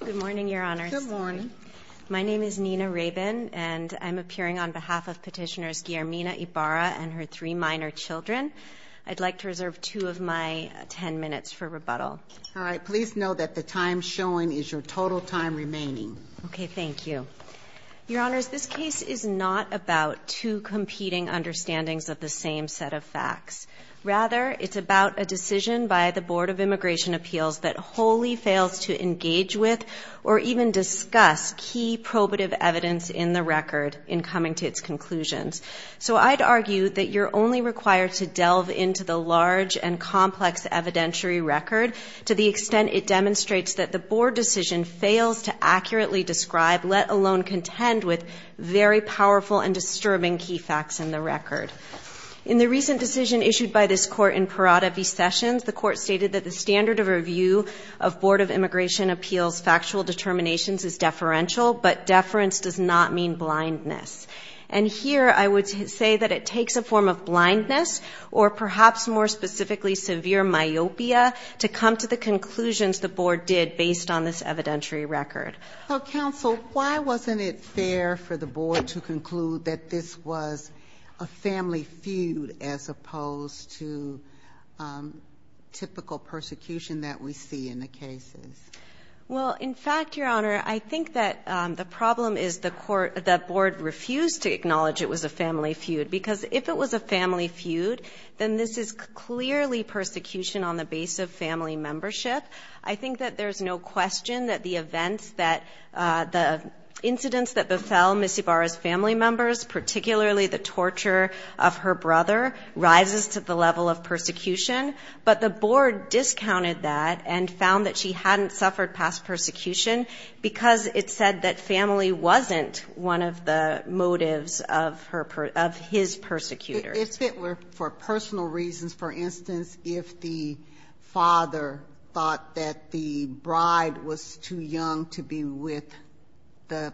Good morning, Your Honors. Good morning. My name is Nina Rabin, and I'm appearing on behalf of Petitioners Guillermina Ibarra and her three minor children. I'd like to reserve two of my ten minutes for rebuttal. All right. Please know that the time showing is your total time remaining. Okay. Thank you. Your Honors, this case is not about two competing understandings of the same set of facts. Rather, it's about a decision by the Board of Immigration Appeals that wholly fails to engage with or even discuss key probative evidence in the record in coming to its conclusions. So I'd argue that you're only required to delve into the large and complex evidentiary record to the extent it demonstrates that the board decision fails to accurately describe, let alone contend with, very powerful and disturbing key facts in the record. In the recent decision issued by this court in Perata v. Sessions, the court stated that the standard of review of Board of Immigration Appeals' factual determinations is deferential, but deference does not mean blindness. And here I would say that it takes a form of blindness or perhaps more specifically severe myopia to come to the conclusions the board did based on this evidentiary record. So, counsel, why wasn't it fair for the board to conclude that this was a family feud as opposed to typical persecution that we see in the cases? Well, in fact, Your Honor, I think that the problem is the court, the board refused to acknowledge it was a family feud, because if it was a family feud, then this is clearly persecution on the base of family membership. I think that there's no question that the events that, the incidents that befell Ms. Ibarra's family members, particularly the torture of her brother, rises to the level of persecution. But the board discounted that and found that she hadn't suffered past persecution because it said that family wasn't one of the motives of her, of his persecutors. If it were for personal reasons, for instance, if the father thought that the bride was too young to be with the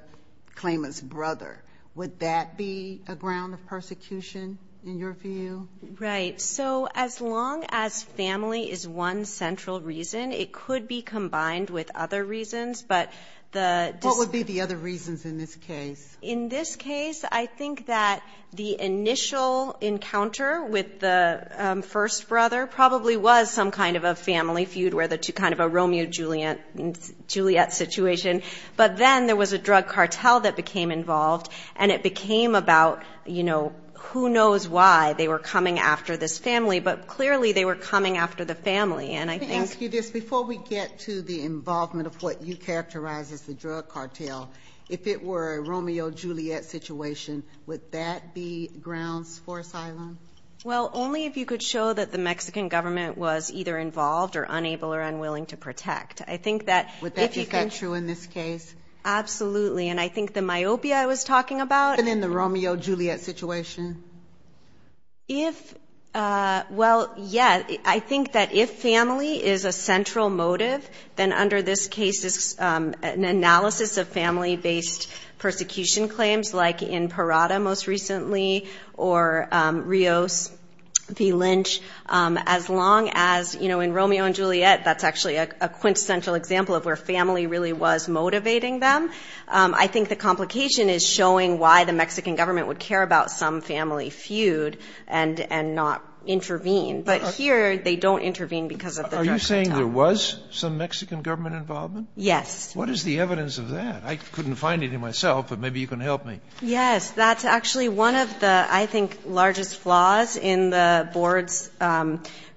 claimant's brother, would that be a ground of persecution in your view? Right. So as long as family is one central reason, it could be combined with other reasons, but the dis- What would be the other reasons in this case? In this case, I think that the initial encounter with the first brother probably was some kind of a family feud where the two, kind of a Romeo and Juliet situation, but then there was a drug cartel that became involved and it became about, you know, who knows why they were coming after this family, but clearly they were coming after the family. And I think- Let me ask you this. Before we get to the involvement of what you characterize as the drug cartel, if it were a Romeo-Juliet situation, would that be grounds for asylum? Well, only if you could show that the Mexican government was either involved or unable or unwilling to protect. I think that if you can- Would that be true in this case? Absolutely. And I think the myopia I was talking about- Even in the Romeo-Juliet situation? If, well, yeah. I think that if family is a central motive, then under this case, it's an analysis of family-based persecution claims like in Parada most recently or Rios v. Lynch. As long as, you know, in Romeo and Juliet, that's actually a quintessential example of where family really was motivating them. I think the complication is showing why the Mexican government would care about some family feud and not intervene, but here they don't intervene because of the drug cartel. Are you saying there was some Mexican government involvement? Yes. What is the evidence of that? I couldn't find it in myself, but maybe you can help me. Yes. That's actually one of the, I think, largest flaws in the board's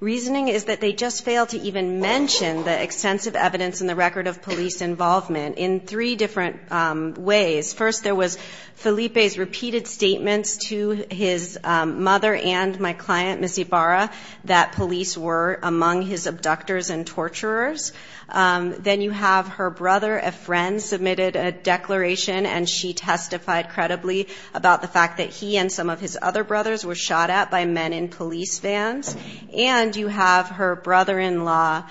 reasoning, is that they just failed to even mention the extensive evidence in the record of police involvement in three different ways. First, there was Felipe's repeated statements to his mother and my client, Miss Ibarra, that police were among his abductors and torturers. Then you have her brother, a friend, submitted a declaration and she testified credibly about the fact that he and some of his other brothers were shot at by men in police vans. And you have her brother-in-law,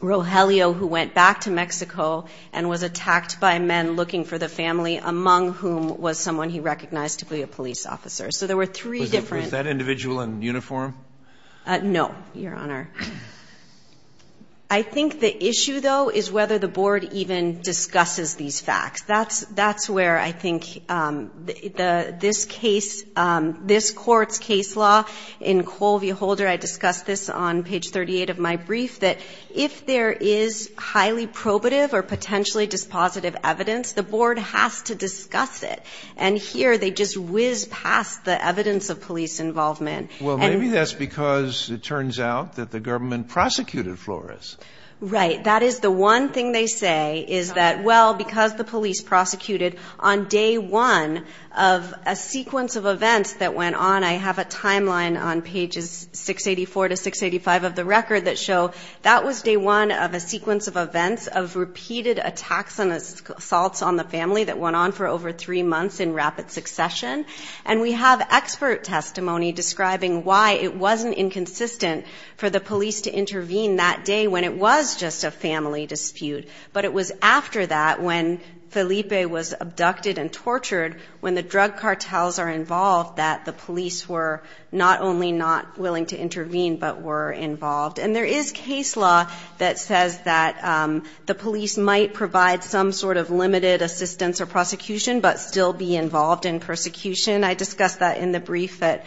Rogelio, who went back to Mexico and was attacked by men looking for the family, among whom was someone he recognized to be a police officer. So there were three different- Was that individual in uniform? No, Your Honor. I think the issue, though, is whether the board even discusses these facts. That's where I think this case, this court's case law, in Colville Holder, I discussed this on page 38 of my brief, that if there is highly probative or potentially dispositive evidence, the board has to discuss it. And here, they just whiz past the evidence of police involvement. Well, maybe that's because it turns out that the government prosecuted Flores. Right. That is the one thing they say, is that, well, because the police prosecuted on day one of a sequence of events that went on. I have a timeline on pages 684 to 685 of the record that show that was day one of a sequence of events of repeated attacks and assaults on the family that went on for over three months in rapid succession. And we have expert testimony describing why it wasn't inconsistent for the police to intervene that day when it was just a family dispute. But it was after that, when Felipe was abducted and tortured, when the drug cartels are involved, that the police were not only not willing to intervene, but were involved. And there is case law that says that the police might provide some sort of limited assistance or prosecution, but still be involved in persecution. I discussed that in the brief at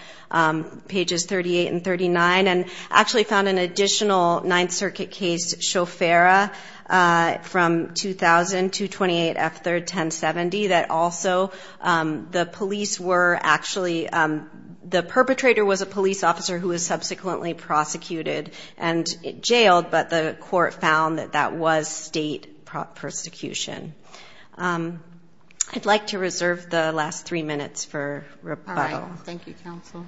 pages 38 and 39, and actually found an additional Ninth Circuit case, Shofera, from 2000 to 28F3, 1070. That also, the police were actually, the perpetrator was a police officer who was subsequently prosecuted and jailed. But the court found that that was state prosecution. I'd like to reserve the last three minutes for rebuttal. All right. Thank you, counsel.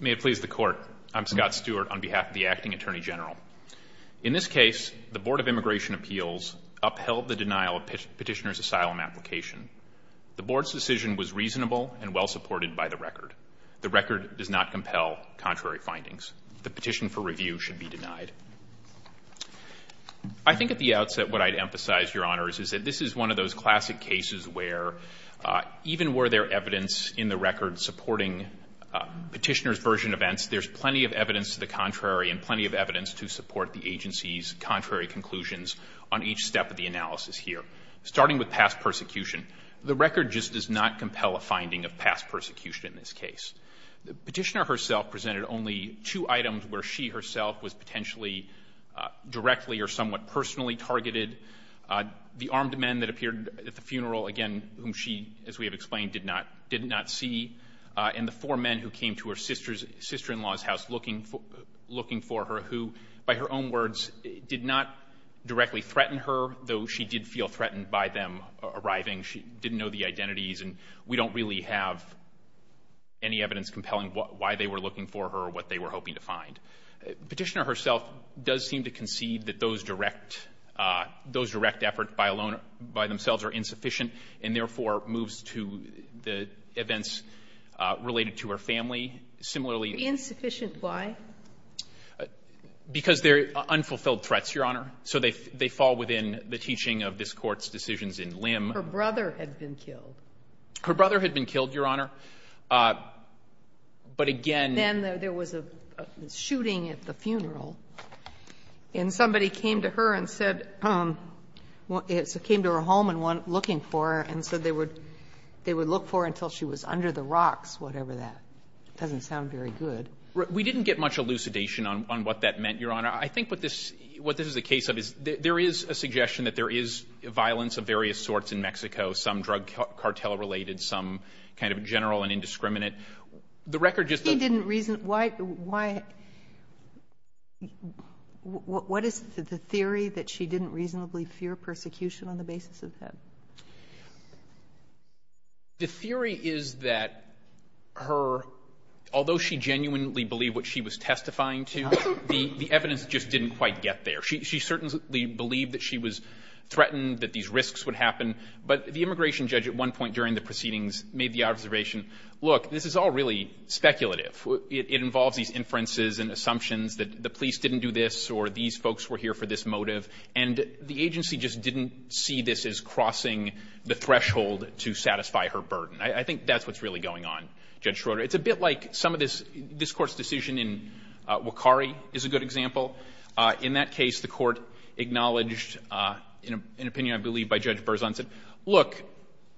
May it please the court. I'm Scott Stewart on behalf of the Acting Attorney General. In this case, the Board of Immigration Appeals upheld the denial of petitioner's asylum application. The board's decision was reasonable and well supported by the record. The record does not compel contrary findings. The petition for review should be denied. I think at the outset, what I'd emphasize, Your Honors, is that this is one of those classic cases where even were there evidence in the record supporting petitioner's version events, there's plenty of evidence to the contrary and plenty of evidence to support the agency's contrary conclusions on each step of the analysis here. Starting with past persecution, the record just does not compel a finding of past persecution in this case. The petitioner herself presented only two items where she herself was potentially directly or somewhat personally targeted, the armed men that appeared at the funeral, again, whom she, as we have explained, did not see. And the four men who came to her sister-in-law's house looking for her, who, by her own words, did not directly threaten her, though she did feel threatened by them arriving. She didn't know the identities. And we don't really have any evidence compelling why they were looking for her or what they were hoping to find. Petitioner herself does seem to concede that those direct efforts by themselves are insufficient and, therefore, moves to the events related to her family. Similarly — Sotomayor, insufficient why? Because they're unfulfilled threats, Your Honor. So they fall within the teaching of this Court's decisions in Lim. Her brother had been killed. Her brother had been killed, Your Honor. But again — Then there was a shooting at the funeral, and somebody came to her and said — came to her home and went looking for her, and said they would look for her until she was under the rocks, whatever that — doesn't sound very good. We didn't get much elucidation on what that meant, Your Honor. I think what this — what this is a case of is there is a suggestion that there is violence of various sorts in Mexico, some drug cartel-related, some kind of general and indiscriminate. The record just — He didn't reason — why — what is the theory that she didn't reasonably fear persecution on the basis of him? The theory is that her — although she genuinely believed what she was testifying to, the evidence just didn't quite get there. She certainly believed that she was threatened, that these risks would happen. But the immigration judge at one point during the proceedings made the observation, look, this is all really speculative. It involves these inferences and assumptions that the police didn't do this or these folks were here for this motive, and the agency just didn't see this as crossing the threshold to satisfy her burden. I think that's what's really going on, Judge Schroeder. It's a bit like some of this — this Court's decision in Wakari is a good example. In that case, the Court acknowledged an opinion, I believe, by Judge Berzont said, look,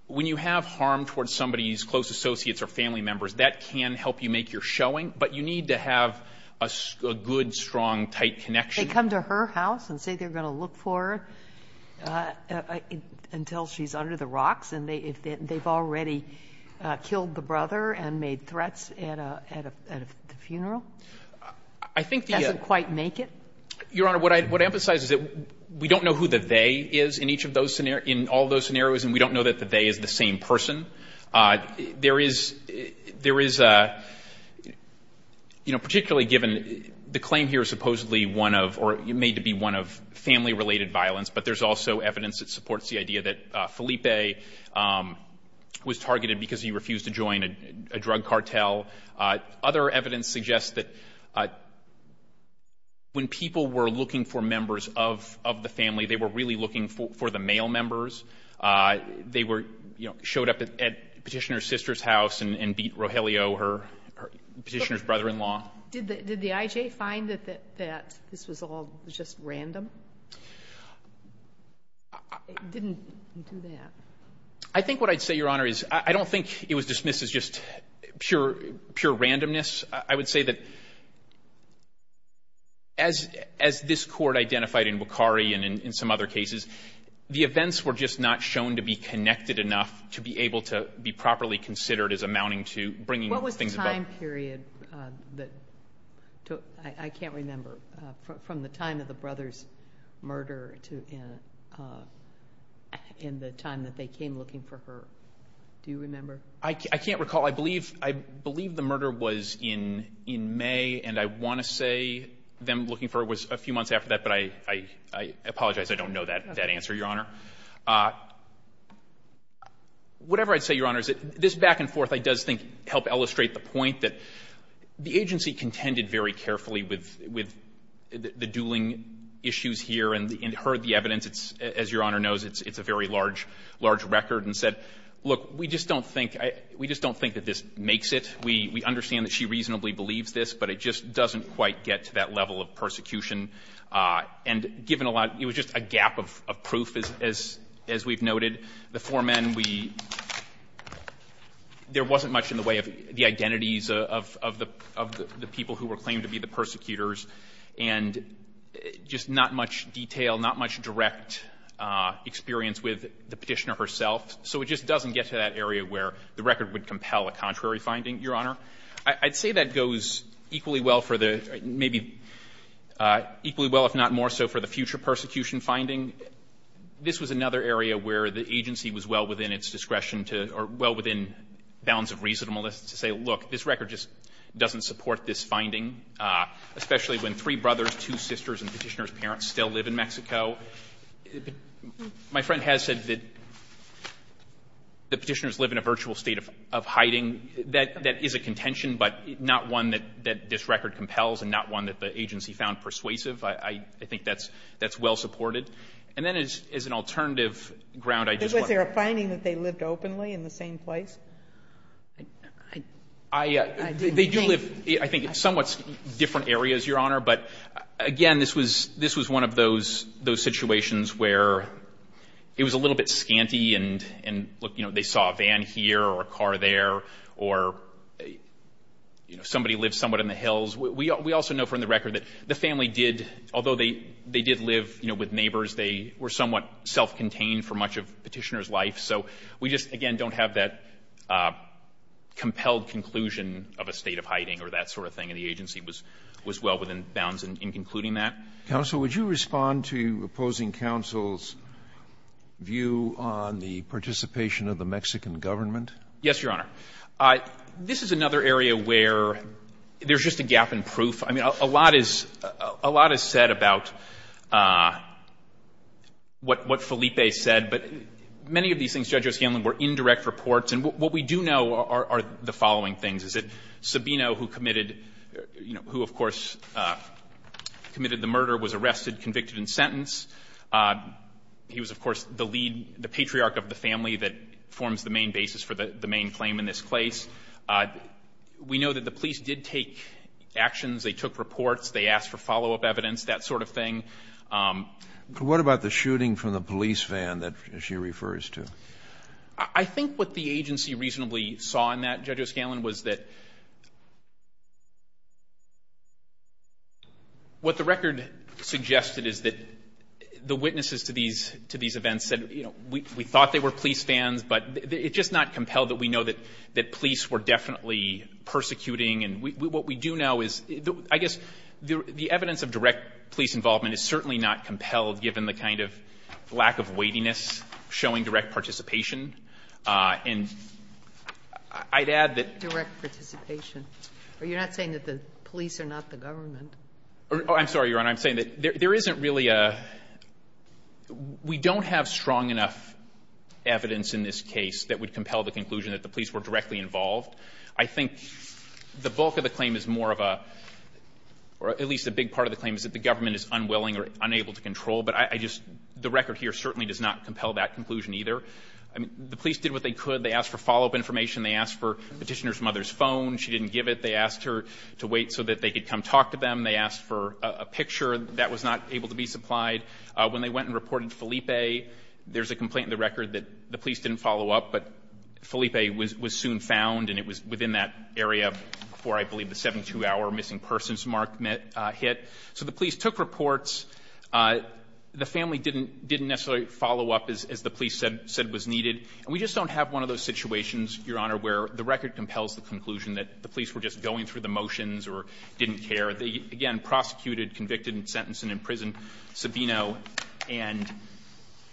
when you have harm towards somebody's close associates or family members, that can help you make your showing, but you need to have a good, strong, tight connection. They come to her house and say they're going to look for her until she's under the rocks, and they've already killed the brother and made threats at a — at a funeral? I think the — Doesn't quite make it? Your Honor, what I emphasize is that we don't know who the they is in each of those — in all those scenarios, and we don't know that the they is the same person. There is — there is a — you know, particularly given the claim here is supposedly one of — or made to be one of family-related violence, but there's also evidence that supports the idea that Felipe was targeted because he refused to join a — a drug cartel. Other evidence suggests that when people were looking for members of — of the family, they were really looking for the male members. They were — you know, showed up at Petitioner's sister's house and beat Rogelio, her — Petitioner's brother-in-law. Did the — did the I.J. find that — that this was all just random? It didn't do that. I think what I'd say, Your Honor, is I don't think it was dismissed as just pure — pure randomness. I would say that as — as this Court identified in Wachari and in some other cases, the events were just not shown to be connected enough to be able to be properly considered as amounting to bringing things about. What was the time period that took — I can't remember. From the time of the brother's murder to — in the time that they came looking for her. Do you remember? I can't recall. I believe — I believe the murder was in — in May, and I want to say them looking for her was a few months after that, but I — I apologize. I don't know that — that answer, Your Honor. Whatever I'd say, Your Honor, is that this back-and-forth, I do think, helped illustrate the point that the agency contended very carefully with — with the dueling issues here and heard the evidence. It's — as Your Honor knows, it's a very large — large record, and said, look, we just don't think — we just don't think that this makes it. We understand that she reasonably believes this, but it just doesn't quite get to that level of persecution. And given a lot — it was just a gap of proof, as — as we've noted. The four men, we — there wasn't much in the way of the identities of — of the — of the people who were claimed to be the persecutors, and just not much detail, not much direct experience with the petitioner herself. So it just doesn't get to that area where the record would compel a contrary finding, Your Honor. I'd say that goes equally well for the — maybe equally well, if not more so, for the future persecution finding. This was another area where the agency was well within its discretion to — or well within bounds of reasonableness to say, look, this record just doesn't support this finding, especially when three brothers, two sisters, and the petitioner's parents still live in Mexico. My friend has said that the petitioners live in a virtual state of hiding. That is a contention, but not one that — that this record compels and not one that the agency found persuasive. I — I think that's — that's well supported. And then as an alternative ground, I just want to — Was there a finding that they lived openly in the same place? I — they do live, I think, in somewhat different areas, Your Honor. But again, this was — this was one of those — those situations where it was a little bit scanty and — and, look, you know, they saw a van here or a car there or, you know, somebody lived somewhat in the hills. We also know from the record that the family did — although they did live, you know, with neighbors, they were somewhat self-contained for much of the petitioner's life. So we just, again, don't have that compelled conclusion of a state of hiding or that sort of thing. And the agency was — was well within bounds in concluding that. Counsel, would you respond to opposing counsel's view on the participation of the Mexican government? Yes, Your Honor. This is another area where there's just a gap in proof. I mean, a lot is — a lot is said about what — what Felipe said, but many of these things, Judge O'Scanlan, were indirect reports. And what we do know are the following things. Is it Sabino who committed — you know, who, of course, committed the murder, was arrested, convicted and sentenced? He was, of course, the lead — the patriarch of the family that forms the main basis for the — the main claim in this case. We know that the police did take actions. They took reports. They asked for follow-up evidence, that sort of thing. But what about the shooting from the police van that she refers to? I think what the agency reasonably saw in that, Judge O'Scanlan, was that what the record suggested is that the witnesses to these — to these events said, you know, we thought they were police vans, but it's just not compelled that we know that — that police were definitely persecuting. And what we do know is — I guess the evidence of direct police involvement is certainly not compelled, given the kind of lack of weightiness showing direct participation. And I'd add that — Direct participation. You're not saying that the police are not the government? Oh, I'm sorry, Your Honor. I'm saying that there isn't really a — we don't have strong enough evidence in this case that would compel the conclusion that the police were directly involved. I think the bulk of the claim is more of a — or at least a big part of the claim is that the government is unwilling or unable to control. But I just — the record here certainly does not compel that conclusion, either. I mean, the police did what they could. They asked for follow-up information. They asked for Petitioner's mother's phone. She didn't give it. They asked her to wait so that they could come talk to them. They asked for a picture. That was not able to be supplied. When they went and reported Felipe, there's a complaint in the record that the police didn't follow up, but Felipe was soon found, and it was within that area before I believe the 72-hour missing persons mark hit. So the police took reports. The family didn't necessarily follow up, as the police said was needed. And we just don't have one of those situations, Your Honor, where the record compels the conclusion that the police were just going through the motions or didn't care. They, again, prosecuted, convicted, and sentenced, and in prison Sabino. And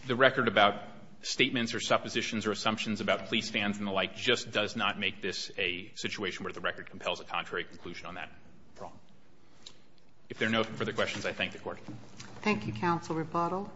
the record about statements or suppositions or assumptions about police fans and the like just does not make this a situation where the record compels a contrary conclusion on that problem. If there are no further questions, I thank the Court. Thank you, Counsel Rebuttal.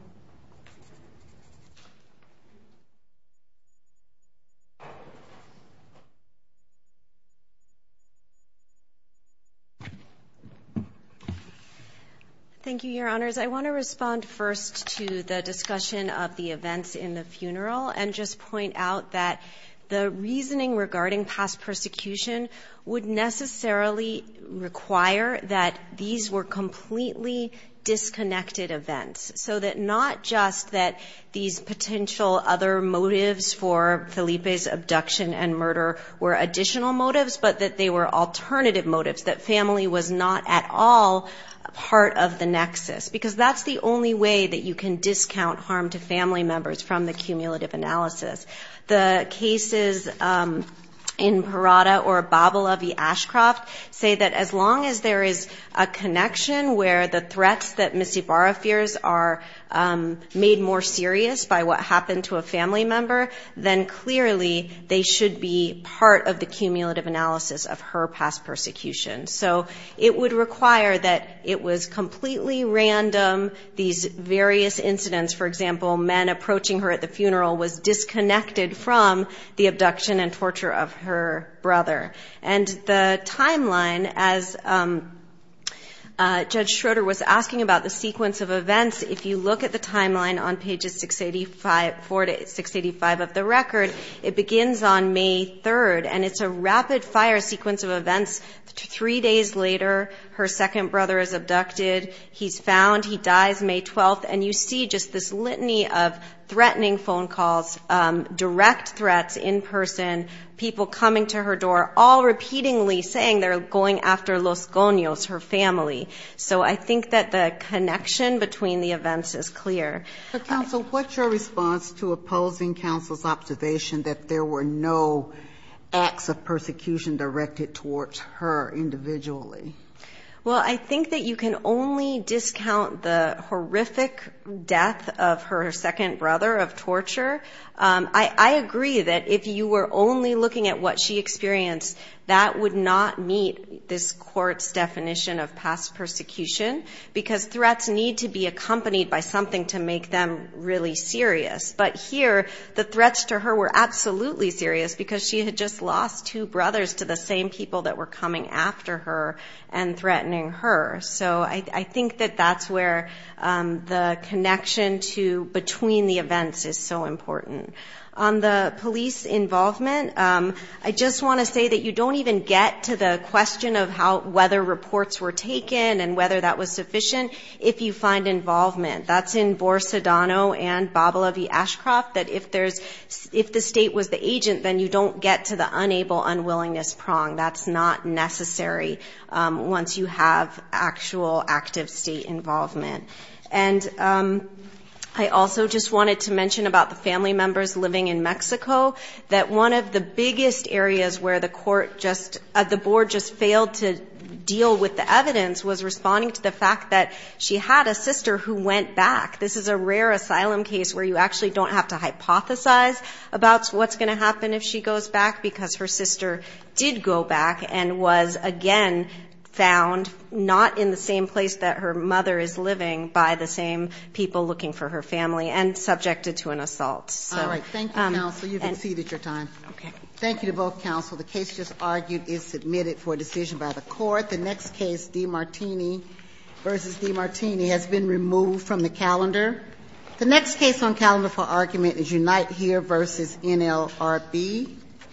Thank you, Your Honors. I want to respond first to the discussion of the events in the funeral and just point out that the reasoning regarding past persecution would necessarily require that these were completely disconnected events. So that not just that these potential other motives for Felipe's abduction and murder were additional motives, but that they were alternative motives, that family was not at all part of the nexus. Because that's the only way that you can discount harm to family members from the cumulative analysis. The cases in Parada or Babala v. Ashcroft say that as long as there is a connection where the threats that Miss Ibarra fears are made more serious by what happened to a family member, then clearly they should be part of the cumulative analysis of her past persecution. So it would require that it was completely random, these various incidents. For example, men approaching her at the funeral was disconnected from the abduction and torture of her brother. And the timeline, as Judge Schroeder was asking about the sequence of events, if you look at the timeline on pages 685 of the record, it begins on May 3rd. And it's a rapid fire sequence of events. Three days later, her second brother is abducted, he's found, he dies May 12th. And you see just this litany of threatening phone calls, direct threats in person, people coming to her door, all repeatedly saying they're going after Los Goños, her family. So I think that the connection between the events is clear. But counsel, what's your response to opposing counsel's observation that there were no acts of persecution directed towards her individually? Well, I think that you can only discount the horrific death of her second brother of torture. I agree that if you were only looking at what she experienced, that would not meet this court's definition of past persecution, because threats need to be accompanied by something to make them really serious. But here, the threats to her were absolutely serious, because she had just lost two brothers to the same people that were coming after her and threatening her. So I think that that's where the connection between the events is so important. On the police involvement, I just want to say that you don't even get to the question of whether reports were taken and whether that was sufficient if you find involvement. That's in Bor-Sedano and Babilavi-Ashcroft, that if the state was the agent, then you don't get to the unable unwillingness prong. That's not necessary once you have actual active state involvement. And I also just wanted to mention about the family members living in Mexico, that one of the biggest areas where the board just failed to deal with the evidence was responding to the fact that she had a sister who went back. This is a rare asylum case where you actually don't have to hypothesize about what's going to happen if she goes back, because her sister did go back and was, again, found not in the same place that her mother is living by the same people looking for her family and subjected to an assault. So… All right. Thank you, counsel. You've exceeded your time. Okay. Thank you to both counsel. The case just argued is submitted for decision by the court. The next case, DiMartini v. DiMartini, has been removed from the calendar. The next case on calendar for argument is Unite Here v. NLRB.